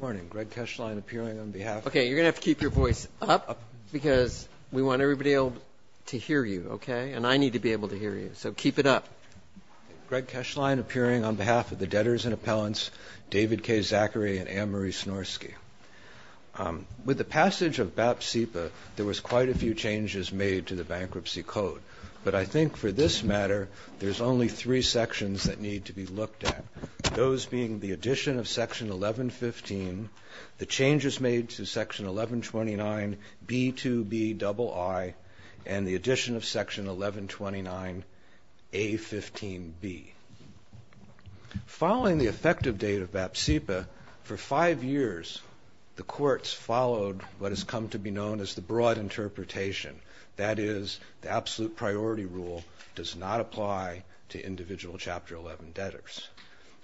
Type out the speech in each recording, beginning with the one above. With the passage of BAP CEPA, there were quite a few changes made to the Bankruptcy Code, but I think for this matter, there's only three sections that need to be looked at, those being the addition of Section 1115, the changes made to Section 1129B2BII, and the addition of Section 1129A15B. Following the effective date of BAP CEPA, for five years, the courts followed what has come to be known as the broad interpretation, that is, the absolute priority rule does not apply to individual Chapter 11 debtors.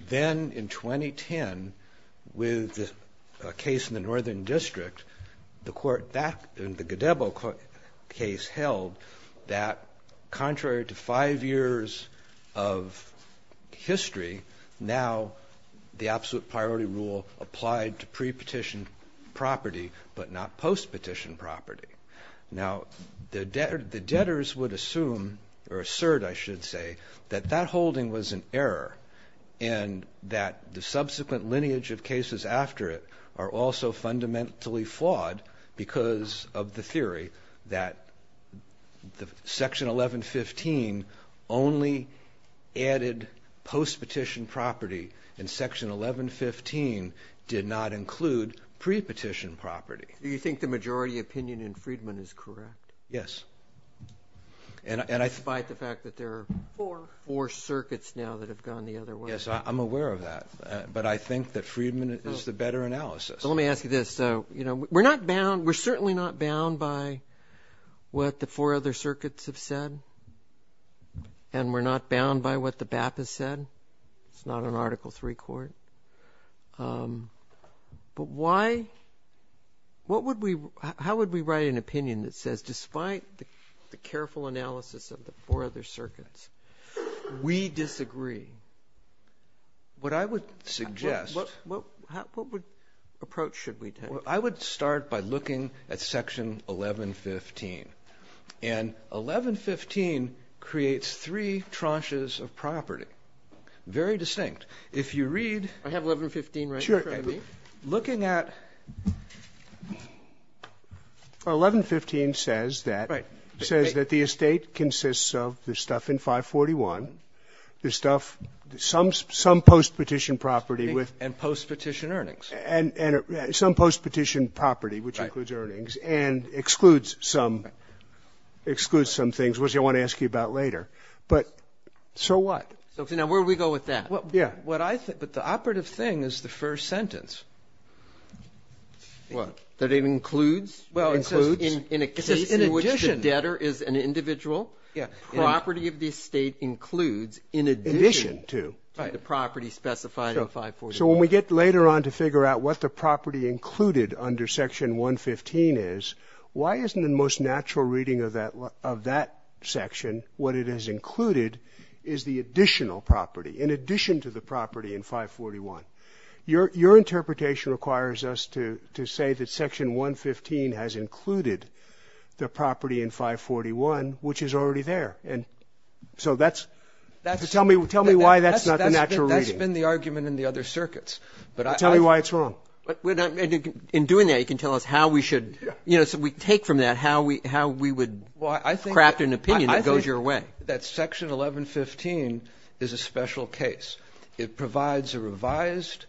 Then, in 2010, with a case in the Northern District, the Godebo case held that contrary to five years of history, now the absolute priority rule applied to pre-petition property, but not post-petition property. Now, the debtors would assume, or assert, I should say, that that holding was an error, and that the subsequent lineage of cases after it are also fundamentally flawed because of the theory that Section 1115 only added post-petition property, and Section 1115 did not include pre-petition property. Do you think the majority opinion in Friedman is correct? Yes. Despite the fact that there are four circuits now that have gone the other way. Yes, I'm aware of that, but I think that Friedman is the better analysis. Let me ask you this. We're certainly not bound by what the four other circuits have said, and we're not bound by what the BAP has said. It's not an Article III court. But how would we write an opinion that says, despite the careful analysis of the four other circuits, we disagree? What I would suggest. What approach should we take? I would start by looking at Section 1115. And 1115 creates three tranches of property. Very distinct. If you read. I have 1115 right in front of me. Sure. Looking at 1115 says that. Right. It says that the estate consists of the stuff in 541, the stuff, some post-petition property with. And post-petition earnings. And some post-petition property, which includes earnings, and excludes some things, which I want to ask you about later. But so what? Now, where do we go with that? Yeah. What I think. But the operative thing is the first sentence. What? That it includes. Well, it includes. In a case in which the debtor is an individual. Yeah. Property of the estate includes in addition to. Right. The property specified in 541. So when we get later on to figure out what the property included under Section 115 is, why isn't the most natural reading of that section, what it has included, is the additional property? In addition to the property in 541. Your interpretation requires us to say that Section 115 has included the property in 541, which is already there. And so that's. Tell me why that's not the natural reading. That's been the argument in the other circuits. Tell me why it's wrong. In doing that, you can tell us how we should, you know, take from that how we would craft an opinion that goes your way. That Section 1115 is a special case. It provides a revised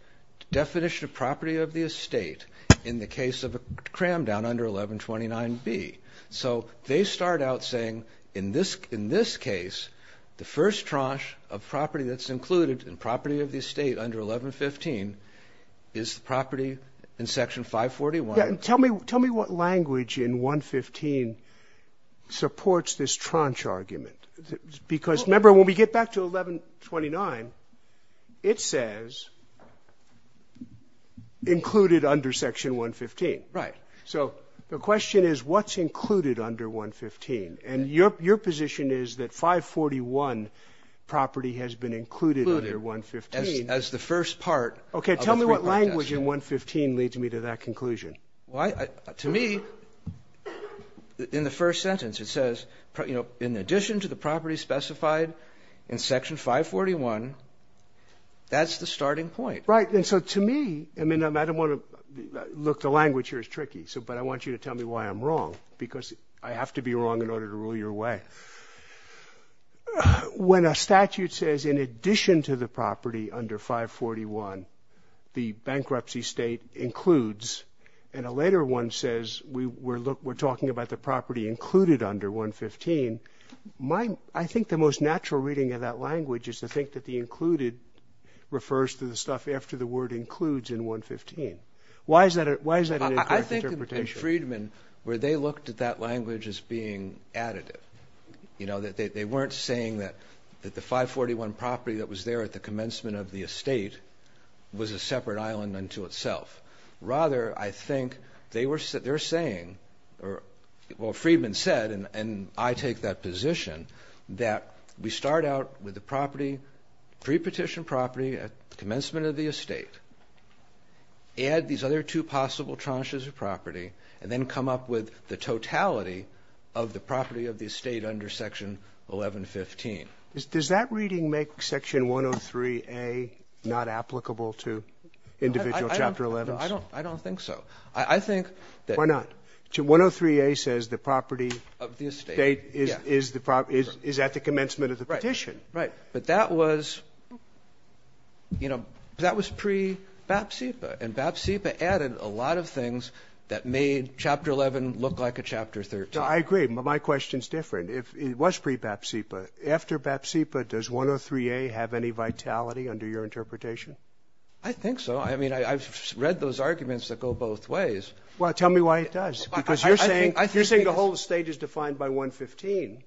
definition of property of the estate in the case of a cram down under 1129B. So they start out saying in this case, the first tranche of property that's included in property of the estate under 1115 is the property in Section 541. Tell me what language in 115 supports this tranche argument. Because, remember, when we get back to 1129, it says included under Section 115. Right. So the question is, what's included under 115? And your position is that 541 property has been included under 115. Included as the first part. Okay. Tell me what language in 115 leads me to that conclusion. To me, in the first sentence, it says, you know, in addition to the property specified in Section 541, that's the starting point. Right. And so to me, I mean, I don't want to look. The language here is tricky. But I want you to tell me why I'm wrong, because I have to be wrong in order to rule your way. When a statute says in addition to the property under 541, the bankruptcy state includes, and a later one says we're talking about the property included under 115, I think the most natural reading of that language is to think that the included refers to the stuff after the word includes in 115. Why is that an incorrect interpretation? And Freedman, where they looked at that language as being additive. You know, they weren't saying that the 541 property that was there at the commencement of the estate was a separate island unto itself. Rather, I think they're saying, or, well, Freedman said, and I take that position, that we start out with the property, pre-petition property at commencement of the estate, add these other two possible tranches of property, and then come up with the totality of the property of the estate under Section 1115. Does that reading make Section 103A not applicable to individual Chapter 11s? No, I don't think so. I think that. Why not? 103A says the property of the estate is at the commencement of the petition. Right, right. But that was, you know, that was pre-Bapsepa, and Bapsepa added a lot of things that made Chapter 11 look like a Chapter 13. I agree, but my question's different. It was pre-Bapsepa. After Bapsepa, does 103A have any vitality under your interpretation? I think so. I mean, I've read those arguments that go both ways. Well, tell me why it does, because you're saying the whole estate is defined by 115.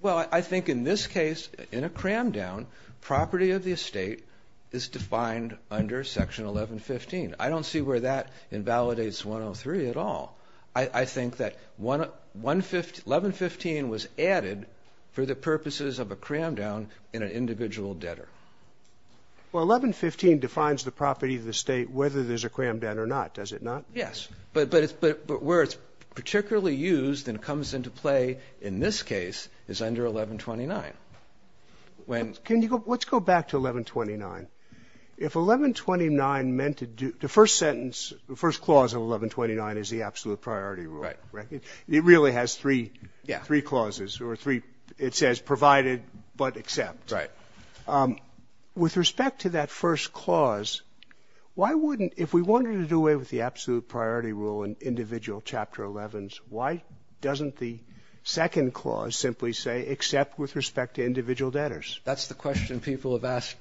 Well, I think in this case, in a cram-down, property of the estate is defined under Section 1115. I don't see where that invalidates 103 at all. I think that 1115 was added for the purposes of a cram-down in an individual debtor. Well, 1115 defines the property of the estate whether there's a cram-down or not, does it not? Yes. But where it's particularly used and comes into play in this case is under 1129. Let's go back to 1129. If 1129 meant the first sentence, the first clause of 1129 is the absolute priority rule. It really has three clauses. It says provided but except. Right. With respect to that first clause, why wouldn't, if we wanted to do away with the absolute priority rule in individual Chapter 11s, why doesn't the second clause simply say except with respect to individual debtors? That's the question people have asked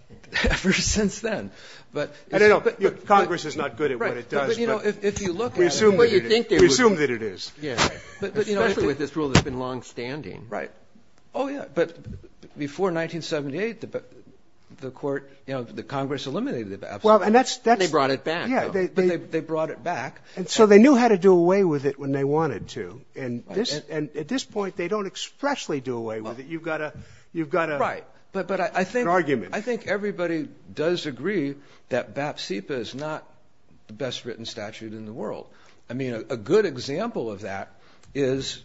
ever since then. I don't know. Congress is not good at what it does. Right. But, you know, if you look at it. We assume that it is. Especially with this rule that's been longstanding. Right. Oh, yeah. But before 1978, the court, you know, the Congress eliminated it. And they brought it back. Yeah. But they brought it back. And so they knew how to do away with it when they wanted to. And at this point they don't expressly do away with it. You've got to. Right. But I think. An argument. world. I mean, a good example of that is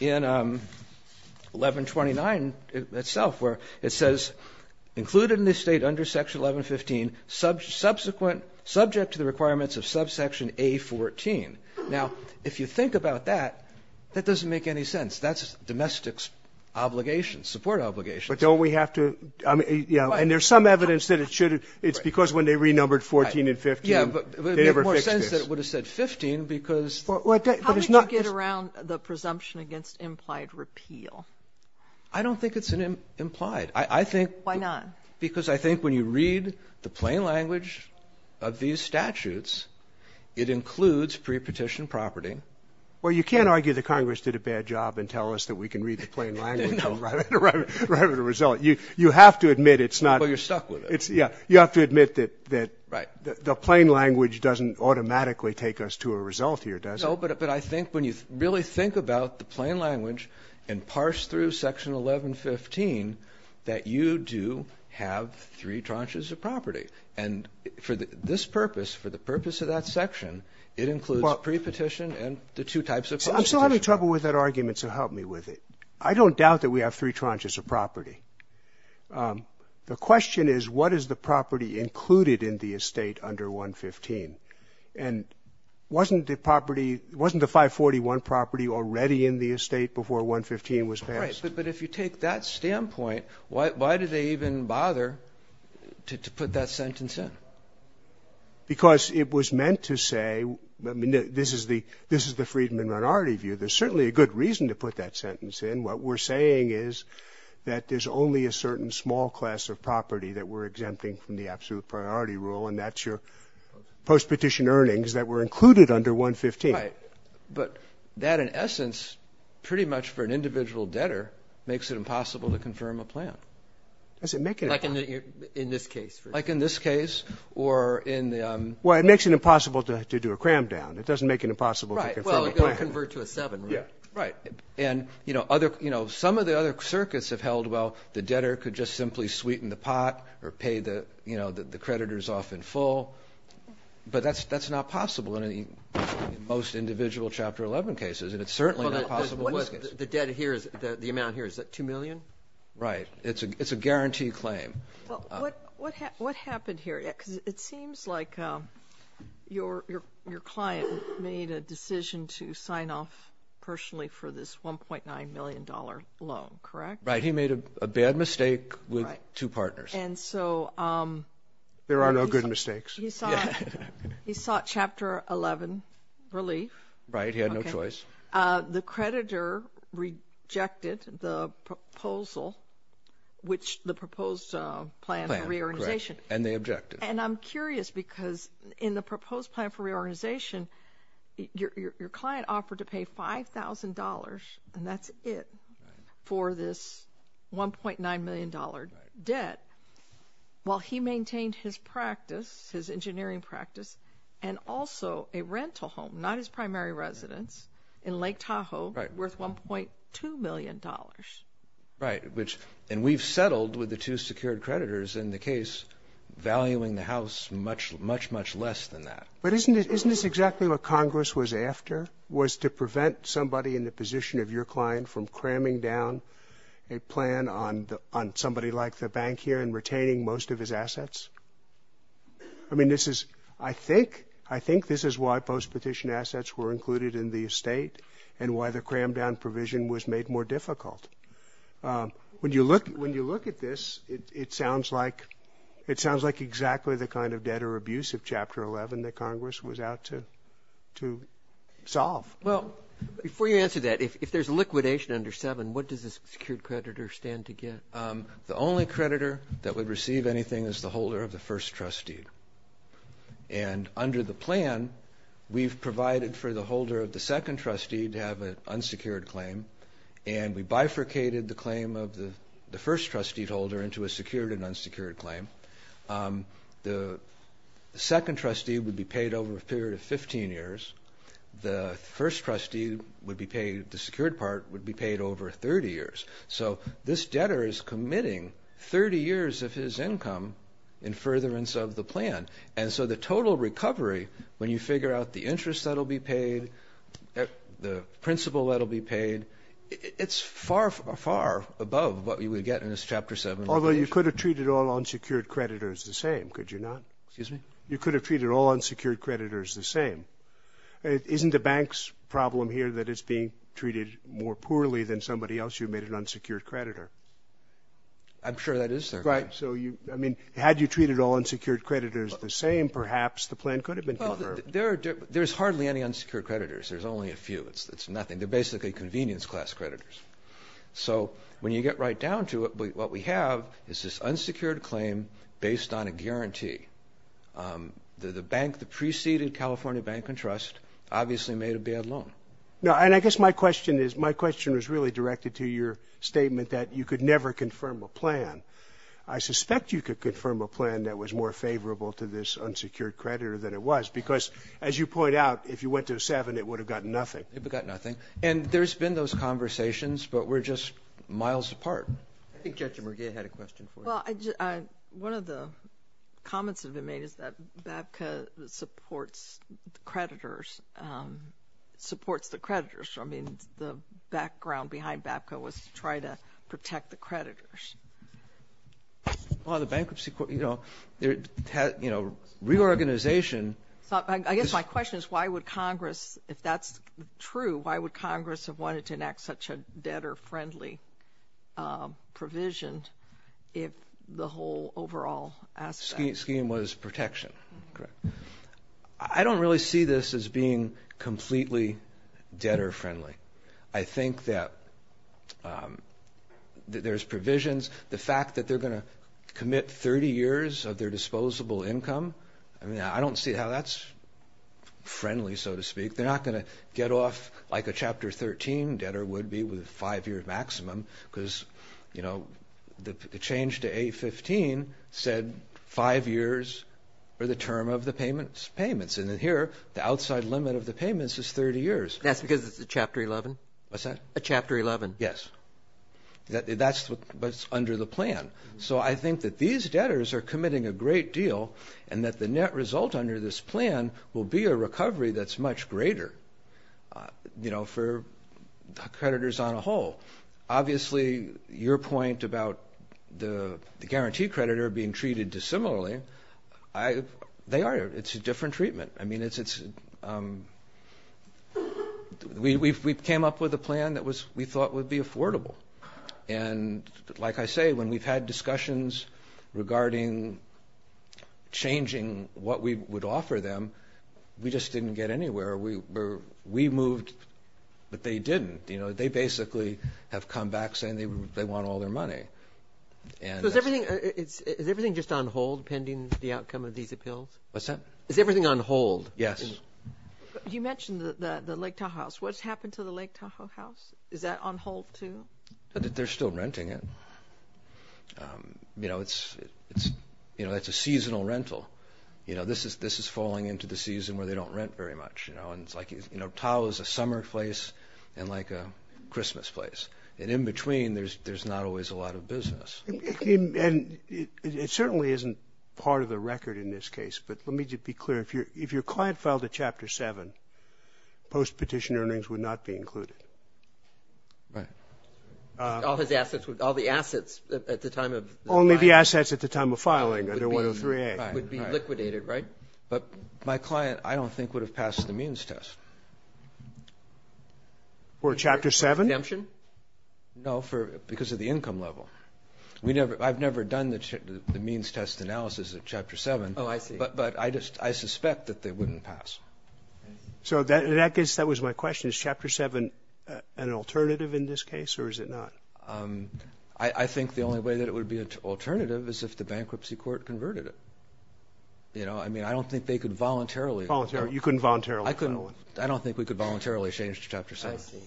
in 1129 itself, where it says included in this State under Section 1115, subsequent, subject to the requirements of subsection A14. Now, if you think about that, that doesn't make any sense. That's domestic obligations, support obligations. But don't we have to? I mean, yeah. And there's some evidence that it should have. It's because when they renumbered 14 and 15, they never fixed this. I don't think that it would have said 15 because. How would you get around the presumption against implied repeal? I don't think it's implied. I think. Why not? Because I think when you read the plain language of these statutes, it includes pre-petition property. Well, you can't argue that Congress did a bad job and tell us that we can read the plain language and arrive at a result. You have to admit it's not. Well, you're stuck with it. Yeah. You have to admit that the plain language doesn't automatically take us to a result here, does it? No, but I think when you really think about the plain language and parse through Section 1115, that you do have three tranches of property. And for this purpose, for the purpose of that section, it includes pre-petition and the two types of. I'm still having trouble with that argument, so help me with it. I don't doubt that we have three tranches of property. The question is, what is the property included in the estate under 115? And wasn't the property, wasn't the 541 property already in the estate before 115 was passed? Right, but if you take that standpoint, why do they even bother to put that sentence in? Because it was meant to say, I mean, this is the Friedman minority view. There's certainly a good reason to put that sentence in. What we're saying is that there's only a certain small class of property that we're exempting from the absolute priority rule, and that's your post-petition earnings that were included under 115. Right. But that, in essence, pretty much for an individual debtor, makes it impossible to confirm a plan. Does it make it impossible? Like in this case. Like in this case, or in the... Well, it makes it impossible to do a cram down. It doesn't make it impossible to confirm a plan. Right, well, it'll convert to a 7, right? Yeah. Right, and, you know, some of the other circuits have held, well, the debtor could just simply sweeten the pot or pay the creditors off in full, but that's not possible in most individual Chapter 11 cases, and it's certainly not possible in this case. The debt here, the amount here, is that $2 million? Right. It's a guaranteed claim. Well, what happened here? Because it seems like your client made a decision to sign off personally for this $1.9 million loan, correct? Right, he made a bad mistake with two partners. And so... There are no good mistakes. He sought Chapter 11 relief. Right, he had no choice. The creditor rejected the proposal, which the proposed plan of reorganization. And they objected. And I'm curious, because in the proposed plan for reorganization, your client offered to pay $5,000, and that's it, for this $1.9 million debt, while he maintained his practice, his engineering practice, and also a rental home, not his primary residence, in Lake Tahoe, worth $1.2 million. Right, which... And we've settled with the two secured creditors in the case, valuing the house much, much, much less than that. But isn't this exactly what Congress was after, was to prevent somebody in the position of your client from cramming down a plan on somebody like the bank here and retaining most of his assets? I mean, this is... I think, I think this is why post-petition assets were included in the state and why the cram-down provision was made more difficult. When you look at this, it sounds like exactly the kind of debtor abuse of Chapter 11 that Congress was out to solve. Well, before you answer that, if there's liquidation under 7, what does the secured creditor stand to get? The only creditor that would receive anything is the holder of the first trust deed. And under the plan, we've provided for the holder of the second trust deed to have an unsecured claim, and we bifurcated the claim of the first trust deed holder into a secured and unsecured claim. The second trust deed would be paid over a period of 15 years. The first trust deed would be paid, the secured part would be paid over 30 years. So this debtor is committing 30 years of his income in furtherance of the plan. And so the total recovery, when you figure out the interest that will be paid, the principal that will be paid, it's far, far above what you would get in this Chapter 7 litigation. Although you could have treated all unsecured creditors the same, could you not? Excuse me? You could have treated all unsecured creditors the same. Isn't the bank's problem here that it's being treated more poorly than somebody else who made an unsecured creditor? I'm sure that is their claim. Right. So you, I mean, had you treated all unsecured creditors the same, perhaps the plan could have been confirmed. There's hardly any unsecured creditors. There's only a few. It's nothing. They're basically convenience class creditors. So when you get right down to it, what we have is this unsecured claim based on a guarantee. The bank, the preceding California Bank and Trust, obviously made a bad loan. No, and I guess my question is, my question is really directed to your statement that you could never confirm a plan. I suspect you could confirm a plan that was more favorable to this unsecured creditor than it was because, as you point out, if you went to a seven, it would have gotten nothing. It would have gotten nothing. And there's been those conversations, but we're just miles apart. I think Judge Merguez had a question for you. Well, one of the comments that have been made is that BAPCA supports creditors, supports the creditors. I mean, the background behind BAPCA was to try to protect the creditors. Well, the bankruptcy court, you know, reorganization. I guess my question is why would Congress, if that's true, why would Congress have wanted to enact such a debtor-friendly provision if the whole overall aspect? Scheme was protection, correct. I don't really see this as being completely debtor-friendly. I think that there's provisions. The fact that they're going to commit 30 years of their disposable income, I mean, I don't see how that's friendly, so to speak. They're not going to get off like a Chapter 13 debtor would be with a five-year And then here, the outside limit of the payments is 30 years. That's because it's a Chapter 11? What's that? A Chapter 11. Yes. That's what's under the plan. So I think that these debtors are committing a great deal and that the net result under this plan will be a recovery that's much greater, you know, for creditors on a whole. Obviously, your point about the guarantee creditor being treated dissimilarly, they are. It's a different treatment. I mean, we came up with a plan that we thought would be affordable. And like I say, when we've had discussions regarding changing what we would offer them, we just didn't get anywhere. We moved, but they didn't. They basically have come back saying they want all their money. So is everything just on hold pending the outcome of these appeals? What's that? Is everything on hold? Yes. You mentioned the Lake Tahoe House. What's happened to the Lake Tahoe House? Is that on hold too? They're still renting it. You know, it's a seasonal rental. You know, this is falling into the season where they don't rent very much. You know, Tahoe is a summer place and like a Christmas place. And in between, there's not always a lot of business. And it certainly isn't part of the record in this case. But let me just be clear. If your client filed a Chapter 7, post-petition earnings would not be included. Right. All the assets at the time of filing. Only the assets at the time of filing under 103A. Right. Would be liquidated, right? But my client, I don't think, would have passed the means test. For a Chapter 7? Redemption? No, because of the income level. I've never done the means test analysis of Chapter 7. Oh, I see. But I suspect that they wouldn't pass. So, in that case, that was my question. Is Chapter 7 an alternative in this case or is it not? I think the only way that it would be an alternative is if the bankruptcy court converted it. You know, I mean, I don't think they could voluntarily. You couldn't voluntarily. I don't think we could voluntarily change to Chapter 7. I see.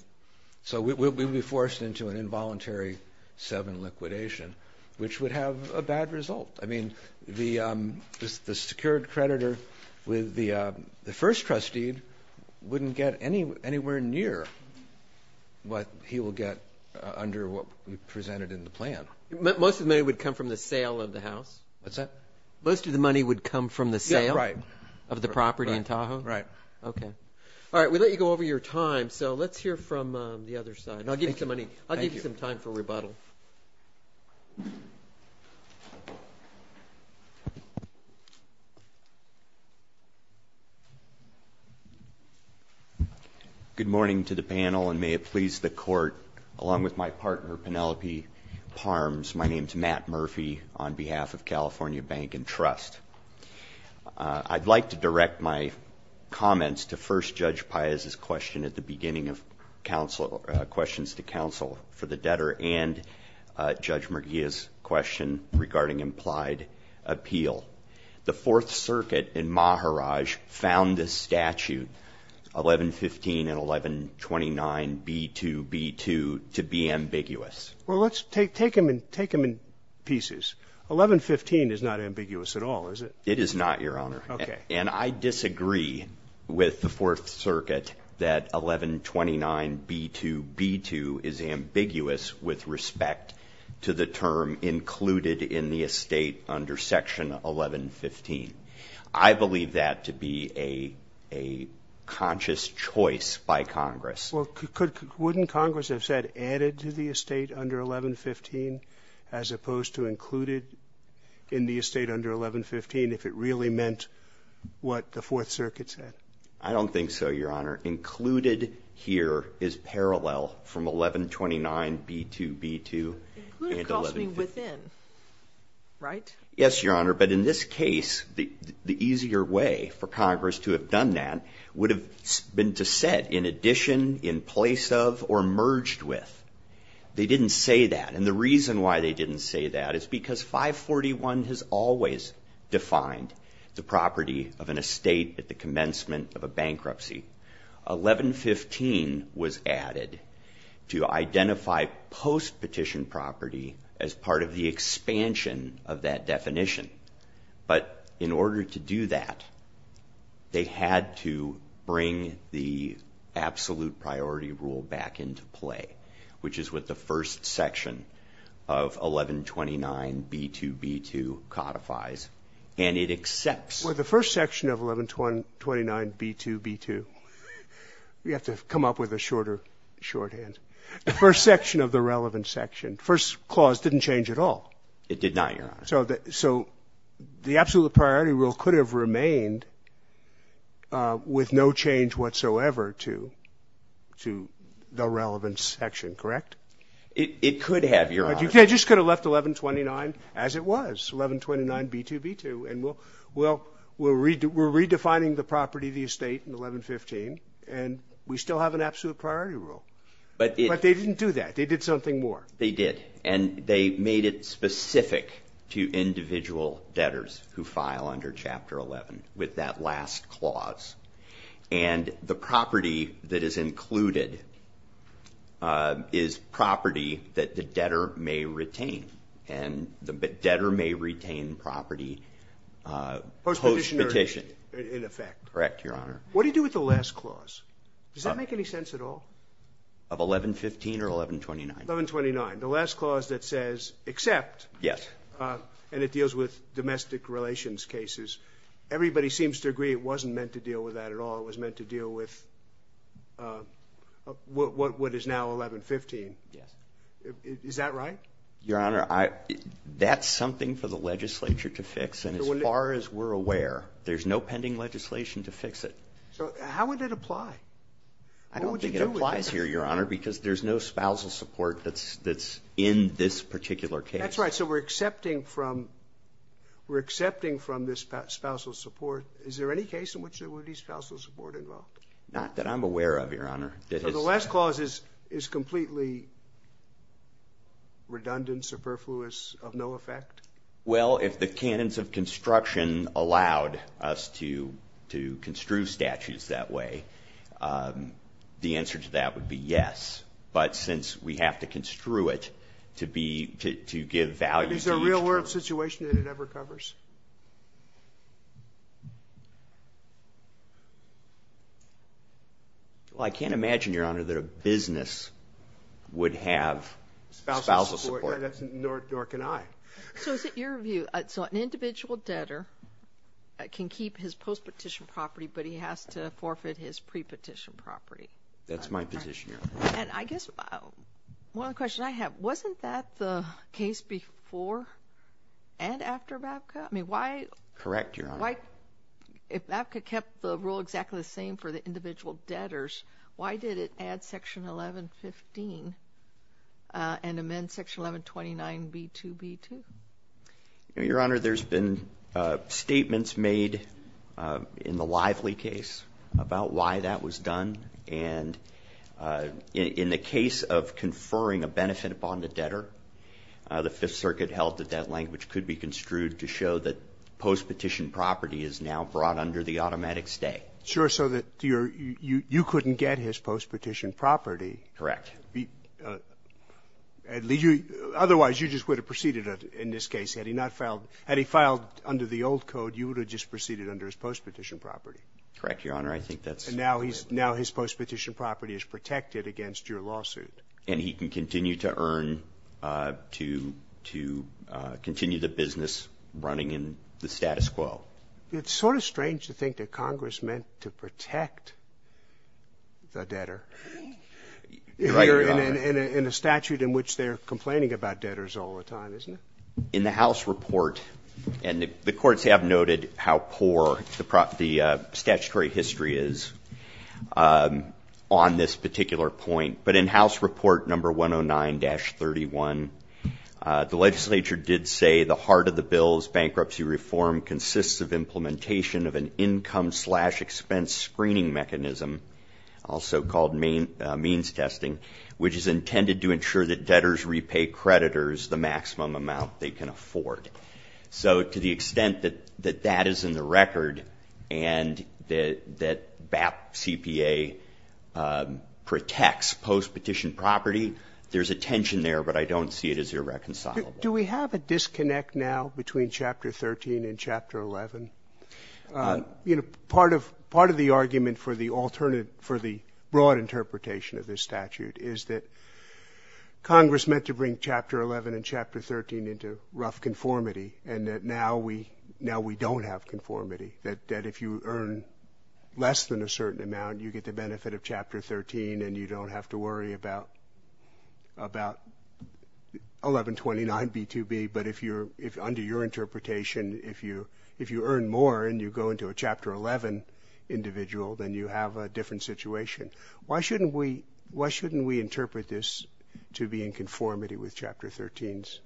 So, we would be forced into an involuntary 7 liquidation, which would have a bad result. I mean, the secured creditor with the first trustee wouldn't get anywhere near what he will get under what we presented in the plan. Most of the money would come from the sale of the house? What's that? Most of the money would come from the sale? Yeah, right. Of the property in Tahoe? Right. Okay. All right. We let you go over your time. So, let's hear from the other side. Thank you. I'll give you some time for rebuttal. Good morning to the panel, and may it please the Court, along with my partner, Penelope Parms, my name is Matt Murphy on behalf of California Bank and Trust. I'd like to direct my comments to first Judge Paez's question at the beginning of questions to counsel for the debtor and Judge Merguia's question regarding implied appeal. The Fourth Circuit in Maharaj found this statute, 1115 and 1129B2B2, to be ambiguous. Well, let's take them in pieces. 1115 is not ambiguous at all, is it? It is not, Your Honor. Okay. And I disagree with the Fourth Circuit that 1129B2B2 is ambiguous with respect to the term included in the estate under Section 1115. I believe that to be a conscious choice by Congress. Well, couldn't Congress have said added to the estate under 1115, as opposed to included in the estate under 1115, if it really meant what the Fourth Circuit said? I don't think so, Your Honor. Included here is parallel from 1129B2B2. Included calls to be within, right? Yes, Your Honor, but in this case, the easier way for Congress to have done that would have been to set, in addition, in place of, or merged with. They didn't say that. And the reason why they didn't say that is because 541 has always defined the property of an estate at the commencement of a bankruptcy. 1115 was added to identify post-petition property as part of the expansion of that definition. But in order to do that, they had to bring the absolute priority rule back into play, which is what the first section of 1129B2B2 codifies, and it accepts. Well, the first section of 1129B2B2, we have to come up with a shorter shorthand. The first section of the relevant section, first clause didn't change at all. It did not, Your Honor. So the absolute priority rule could have remained with no change whatsoever to the relevant section, correct? It could have, Your Honor. But you just could have left 1129 as it was, 1129B2B2, and we're redefining the property of the estate in 1115, and we still have an absolute priority rule. But they didn't do that. They did something more. They did, and they made it specific to individual debtors who file under Chapter 11 with that last clause. And the property that is included is property that the debtor may retain, and the debtor may retain property post-petition. Post-petition, in effect. Correct, Your Honor. What do you do with the last clause? Does that make any sense at all? Of 1115 or 1129? 1129. The last clause that says except, and it deals with domestic relations cases, everybody seems to agree it wasn't meant to deal with that at all. It was meant to deal with what is now 1115. Is that right? Your Honor, that's something for the legislature to fix, and as far as we're aware there's no pending legislation to fix it. So how would that apply? I don't think it applies here, Your Honor, because there's no spousal support that's in this particular case. That's right. So we're accepting from this spousal support. Is there any case in which there would be spousal support involved? Not that I'm aware of, Your Honor. So the last clause is completely redundant, superfluous, of no effect? Well, if the canons of construction allowed us to construe statutes that way, the answer to that would be yes. But since we have to construe it to give value to each term. Is there a real-world situation that it ever covers? Well, I can't imagine, Your Honor, that a business would have spousal support. Nor can I. So is it your view, so an individual debtor can keep his post-petition property, but he has to forfeit his pre-petition property? That's my position, Your Honor. And I guess one of the questions I have, wasn't that the case before and after MAVCA? Correct, Your Honor. If MAVCA kept the rule exactly the same for the individual debtors, why did it add Section 1115 and amend Section 1129B2B2? Your Honor, there's been statements made in the Lively case about why that was done. And in the case of conferring a benefit upon the debtor, the Fifth Circuit held that that language could be construed to show that post-petition property is now brought under the automatic stay. Sure, so that you couldn't get his post-petition property. Correct. Otherwise, you just would have proceeded in this case. Had he filed under the old code, you would have just proceeded under his post-petition property. Correct, Your Honor, I think that's correct. And now his post-petition property is protected against your lawsuit. And he can continue to earn to continue the business running in the status quo. Well, it's sort of strange to think that Congress meant to protect the debtor. Right, Your Honor. In a statute in which they're complaining about debtors all the time, isn't it? In the House report, and the courts have noted how poor the statutory history is on this particular point, but in House Report No. 109-31, the legislature did say the heart of the bill's bankruptcy reform consists of implementation of an income slash expense screening mechanism, also called means testing, which is intended to ensure that debtors repay creditors the maximum amount they can afford. So to the extent that that is in the record and that BAP CPA protects post-petition property, there's a tension there, but I don't see it as irreconcilable. Do we have a disconnect now between Chapter 13 and Chapter 11? Part of the argument for the broad interpretation of this statute is that Congress meant to bring Chapter 11 and Chapter 13 into rough conformity and that now we don't have conformity, that if you earn less than a certain amount, you get the benefit of Chapter 13 and you don't have to worry about 1129B2B. But under your interpretation, if you earn more and you go into a Chapter 11 individual, then you have a different situation. Why shouldn't we interpret this to be in conformity with Chapter 13's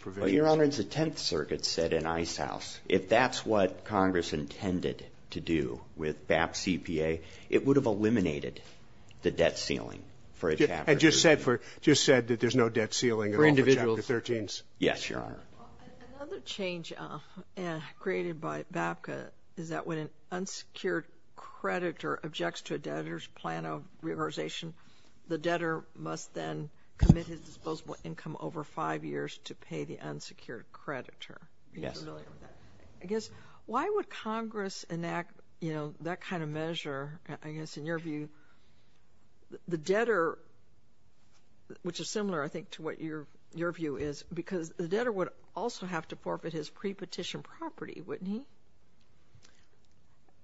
provisions? Your Honor, as the Tenth Circuit said in Icehouse, if that's what Congress intended to do with BAP CPA, it would have eliminated the debt ceiling for a Chapter 13. And just said that there's no debt ceiling at all for Chapter 13? For individuals. Yes, Your Honor. Another change created by BAPCA is that when an unsecured creditor objects to a debtor's plan of reauthorization, the debtor must then commit his disposable income over five years to pay the unsecured creditor. I guess, why would Congress enact that kind of measure, I guess in your view, the debtor, which is similar I think to what your view is, because the debtor would also have to forfeit his pre-petition property, wouldn't he?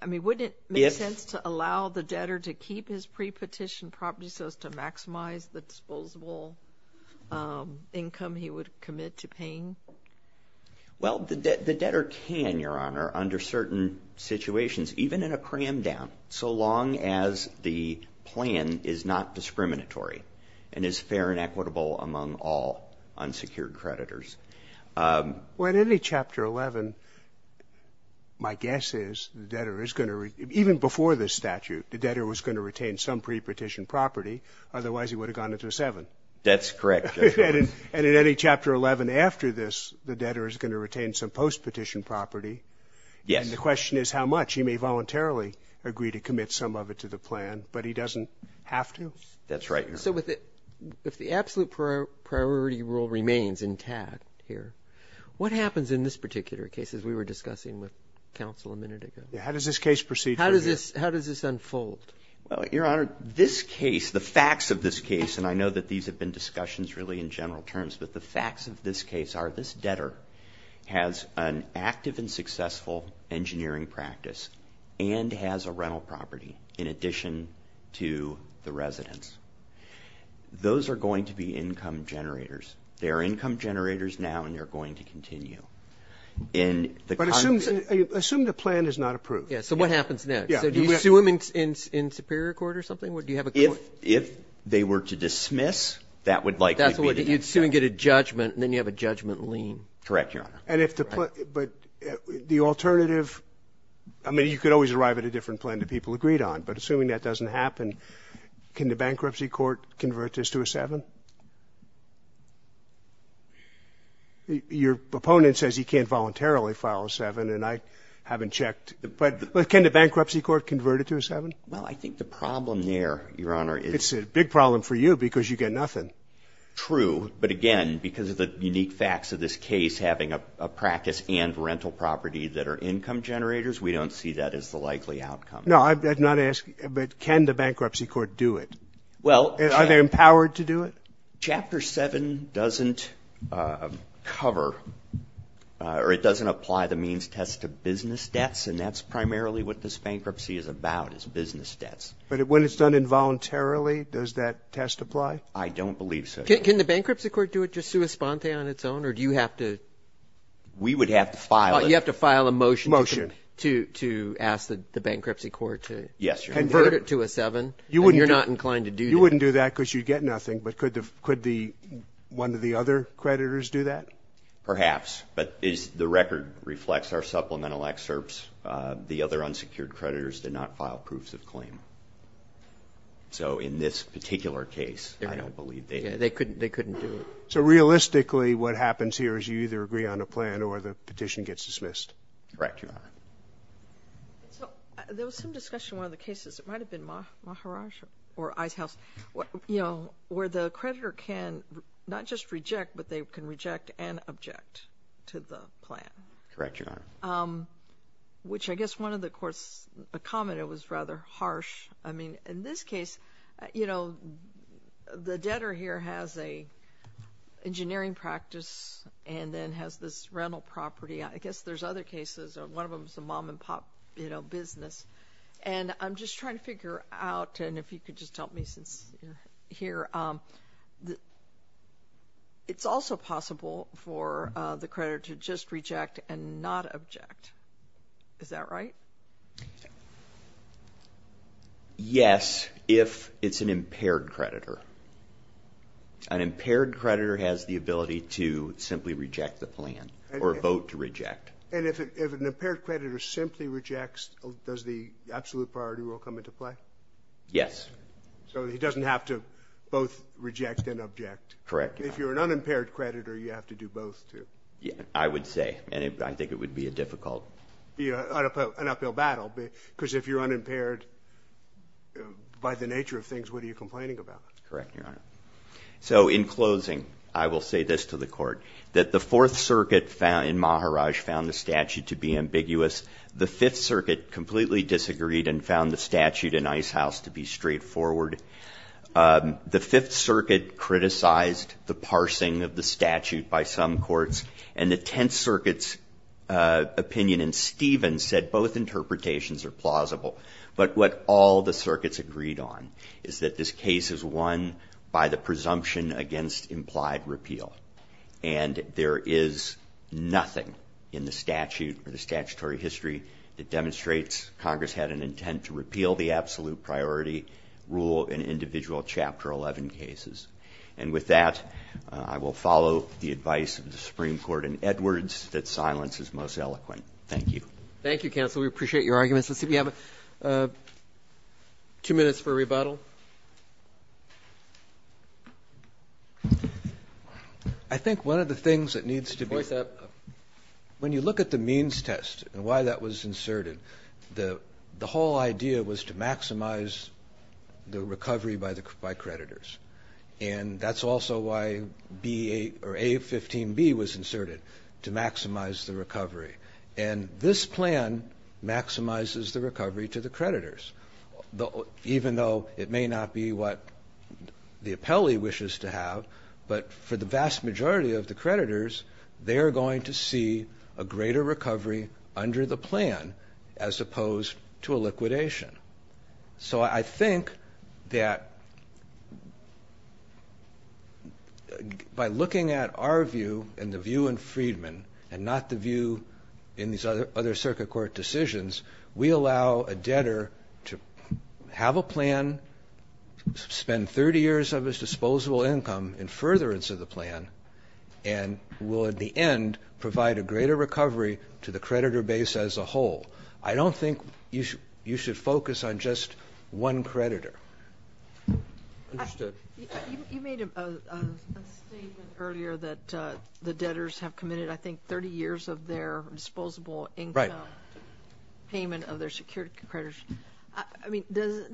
I mean, wouldn't it make sense to allow the debtor to keep his pre-petition property so as to maximize the disposable income he would commit to paying? Well, the debtor can, Your Honor, under certain situations, even in a cram-down, so long as the plan is not discriminatory and is fair and equitable among all unsecured creditors. Well, in any Chapter 11, my guess is the debtor is going to, even before this statute, the debtor was going to retain some pre-petition property, otherwise he would have gone into a seven. That's correct. And in any Chapter 11 after this, the debtor is going to retain some post-petition property. Yes. And the question is how much. He may voluntarily agree to commit some of it to the plan, but he doesn't have to? That's right, Your Honor. So if the absolute priority rule remains intact here, what happens in this particular case as we were discussing with counsel a minute ago? How does this case proceed from here? How does this unfold? Well, Your Honor, this case, the facts of this case, and I know that these have been discussions really in general terms, but the facts of this case are this debtor has an active and successful engineering practice and has a rental property in addition to the residence. Those are going to be income generators. They are income generators now and they're going to continue. But assume the plan is not approved. Yes. So what happens next? Do you sue them in Superior Court or something? If they were to dismiss, that would likely be the next step. You'd sue and get a judgment and then you have a judgment lien. Correct, Your Honor. And if the alternative, I mean, you could always arrive at a different plan that people agreed on, but assuming that doesn't happen, can the bankruptcy court convert this to a 7? Your opponent says he can't voluntarily file a 7 and I haven't checked. But can the bankruptcy court convert it to a 7? Well, I think the problem there, Your Honor, is It's a big problem for you because you get nothing. True, but again, because of the unique facts of this case, having a practice and rental property that are income generators, we don't see that as the likely outcome. No, I'm not asking, but can the bankruptcy court do it? Well Are they empowered to do it? Chapter 7 doesn't cover or it doesn't apply the means test to business debts and that's primarily what this bankruptcy is about, is business debts. But when it's done involuntarily, does that test apply? I don't believe so. Can the bankruptcy court do it just sui sponte on its own or do you have to We would have to file it. You have to file a motion to ask the bankruptcy court to convert it to a 7? Yes, Your Honor. And you're not inclined to do that? You wouldn't do that because you'd get nothing, but could one of the other creditors do that? Perhaps, but the record reflects our supplemental excerpts. The other unsecured creditors did not file proofs of claim. So in this particular case, I don't believe they could. They couldn't do it. So realistically, what happens here is you either agree on a plan or the petition gets dismissed. Correct, Your Honor. There was some discussion in one of the cases, it might have been Maharajah or Ice House, where the creditor can not just reject, but they can reject and object to the plan. Correct, Your Honor. Which I guess one of the courts commented was rather harsh. In this case, the debtor here has an engineering practice and then has this rental property. I guess there's other cases. One of them is a mom and pop business. I'm just trying to figure out, and if you could just help me here, it's also possible for the creditor to just reject and not object. Is that right? Yes, if it's an impaired creditor. An impaired creditor has the ability to simply reject the plan or vote to reject. And if an impaired creditor simply rejects, does the absolute priority rule come into play? Yes. So he doesn't have to both reject and object. Correct. If you're an unimpaired creditor, you have to do both, too. I would say, and I think it would be a difficult. An uphill battle, because if you're unimpaired, by the nature of things, what are you complaining about? Correct, Your Honor. So in closing, I will say this to the Court, that the Fourth Circuit in Maharaj found the statute to be ambiguous. The Fifth Circuit completely disagreed and found the statute in Icehouse to be straightforward. The Fifth Circuit criticized the parsing of the statute by some courts, and the Tenth Circuit's opinion in Stevens said both interpretations are plausible. But what all the circuits agreed on is that this case is won by the presumption against implied repeal. And there is nothing in the statute or the statutory history that demonstrates Congress had an intent to repeal the absolute priority rule in individual Chapter 11 cases. And with that, I will follow the advice of the Supreme Court and Edwards that silence is most eloquent. Thank you. Thank you, counsel. We appreciate your arguments. Let's see if we have two minutes for rebuttal. I think one of the things that needs to be ---- When you look at the means test and why that was inserted, the whole idea was to maximize the recovery by creditors. And that's also why A15B was inserted, to maximize the recovery. And this plan maximizes the recovery to the creditors, even though it may not be what the appellee wishes to have. But for the vast majority of the creditors, they are going to see a greater recovery under the plan as opposed to a liquidation. So I think that by looking at our view and the view in Friedman and not the view in these other circuit court decisions, we allow a debtor to have a plan, spend 30 years of his disposable income in furtherance of the plan, and will in the end provide a greater recovery to the creditor base as a whole. I don't think you should focus on just one creditor. Understood. You made a statement earlier that the debtors have committed, I think, 30 years of their disposable income payment of their secured creditors. I mean, does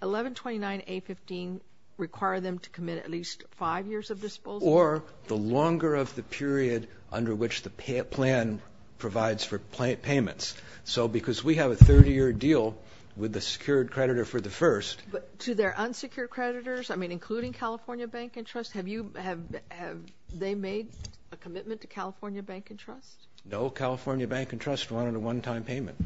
1129A15 require them to commit at least five years of disposable? Or the longer of the period under which the plan provides for payments? So because we have a 30-year deal with the secured creditor for the first. But to their unsecured creditors, I mean, including California Bank and Trust, have they made a commitment to California Bank and Trust? No, California Bank and Trust wanted a one-time payment.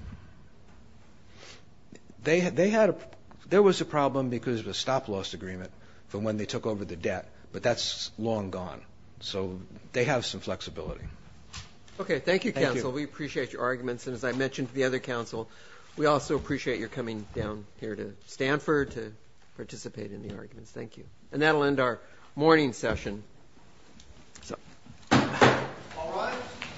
There was a problem because of a stop-loss agreement from when they took over the debt, but that's long gone. So they have some flexibility. Okay, thank you, counsel. Thank you. We appreciate your arguments. And as I mentioned to the other counsel, we also appreciate your coming down here to Stanford to participate in the arguments. Thank you. And that will end our morning session. All rise.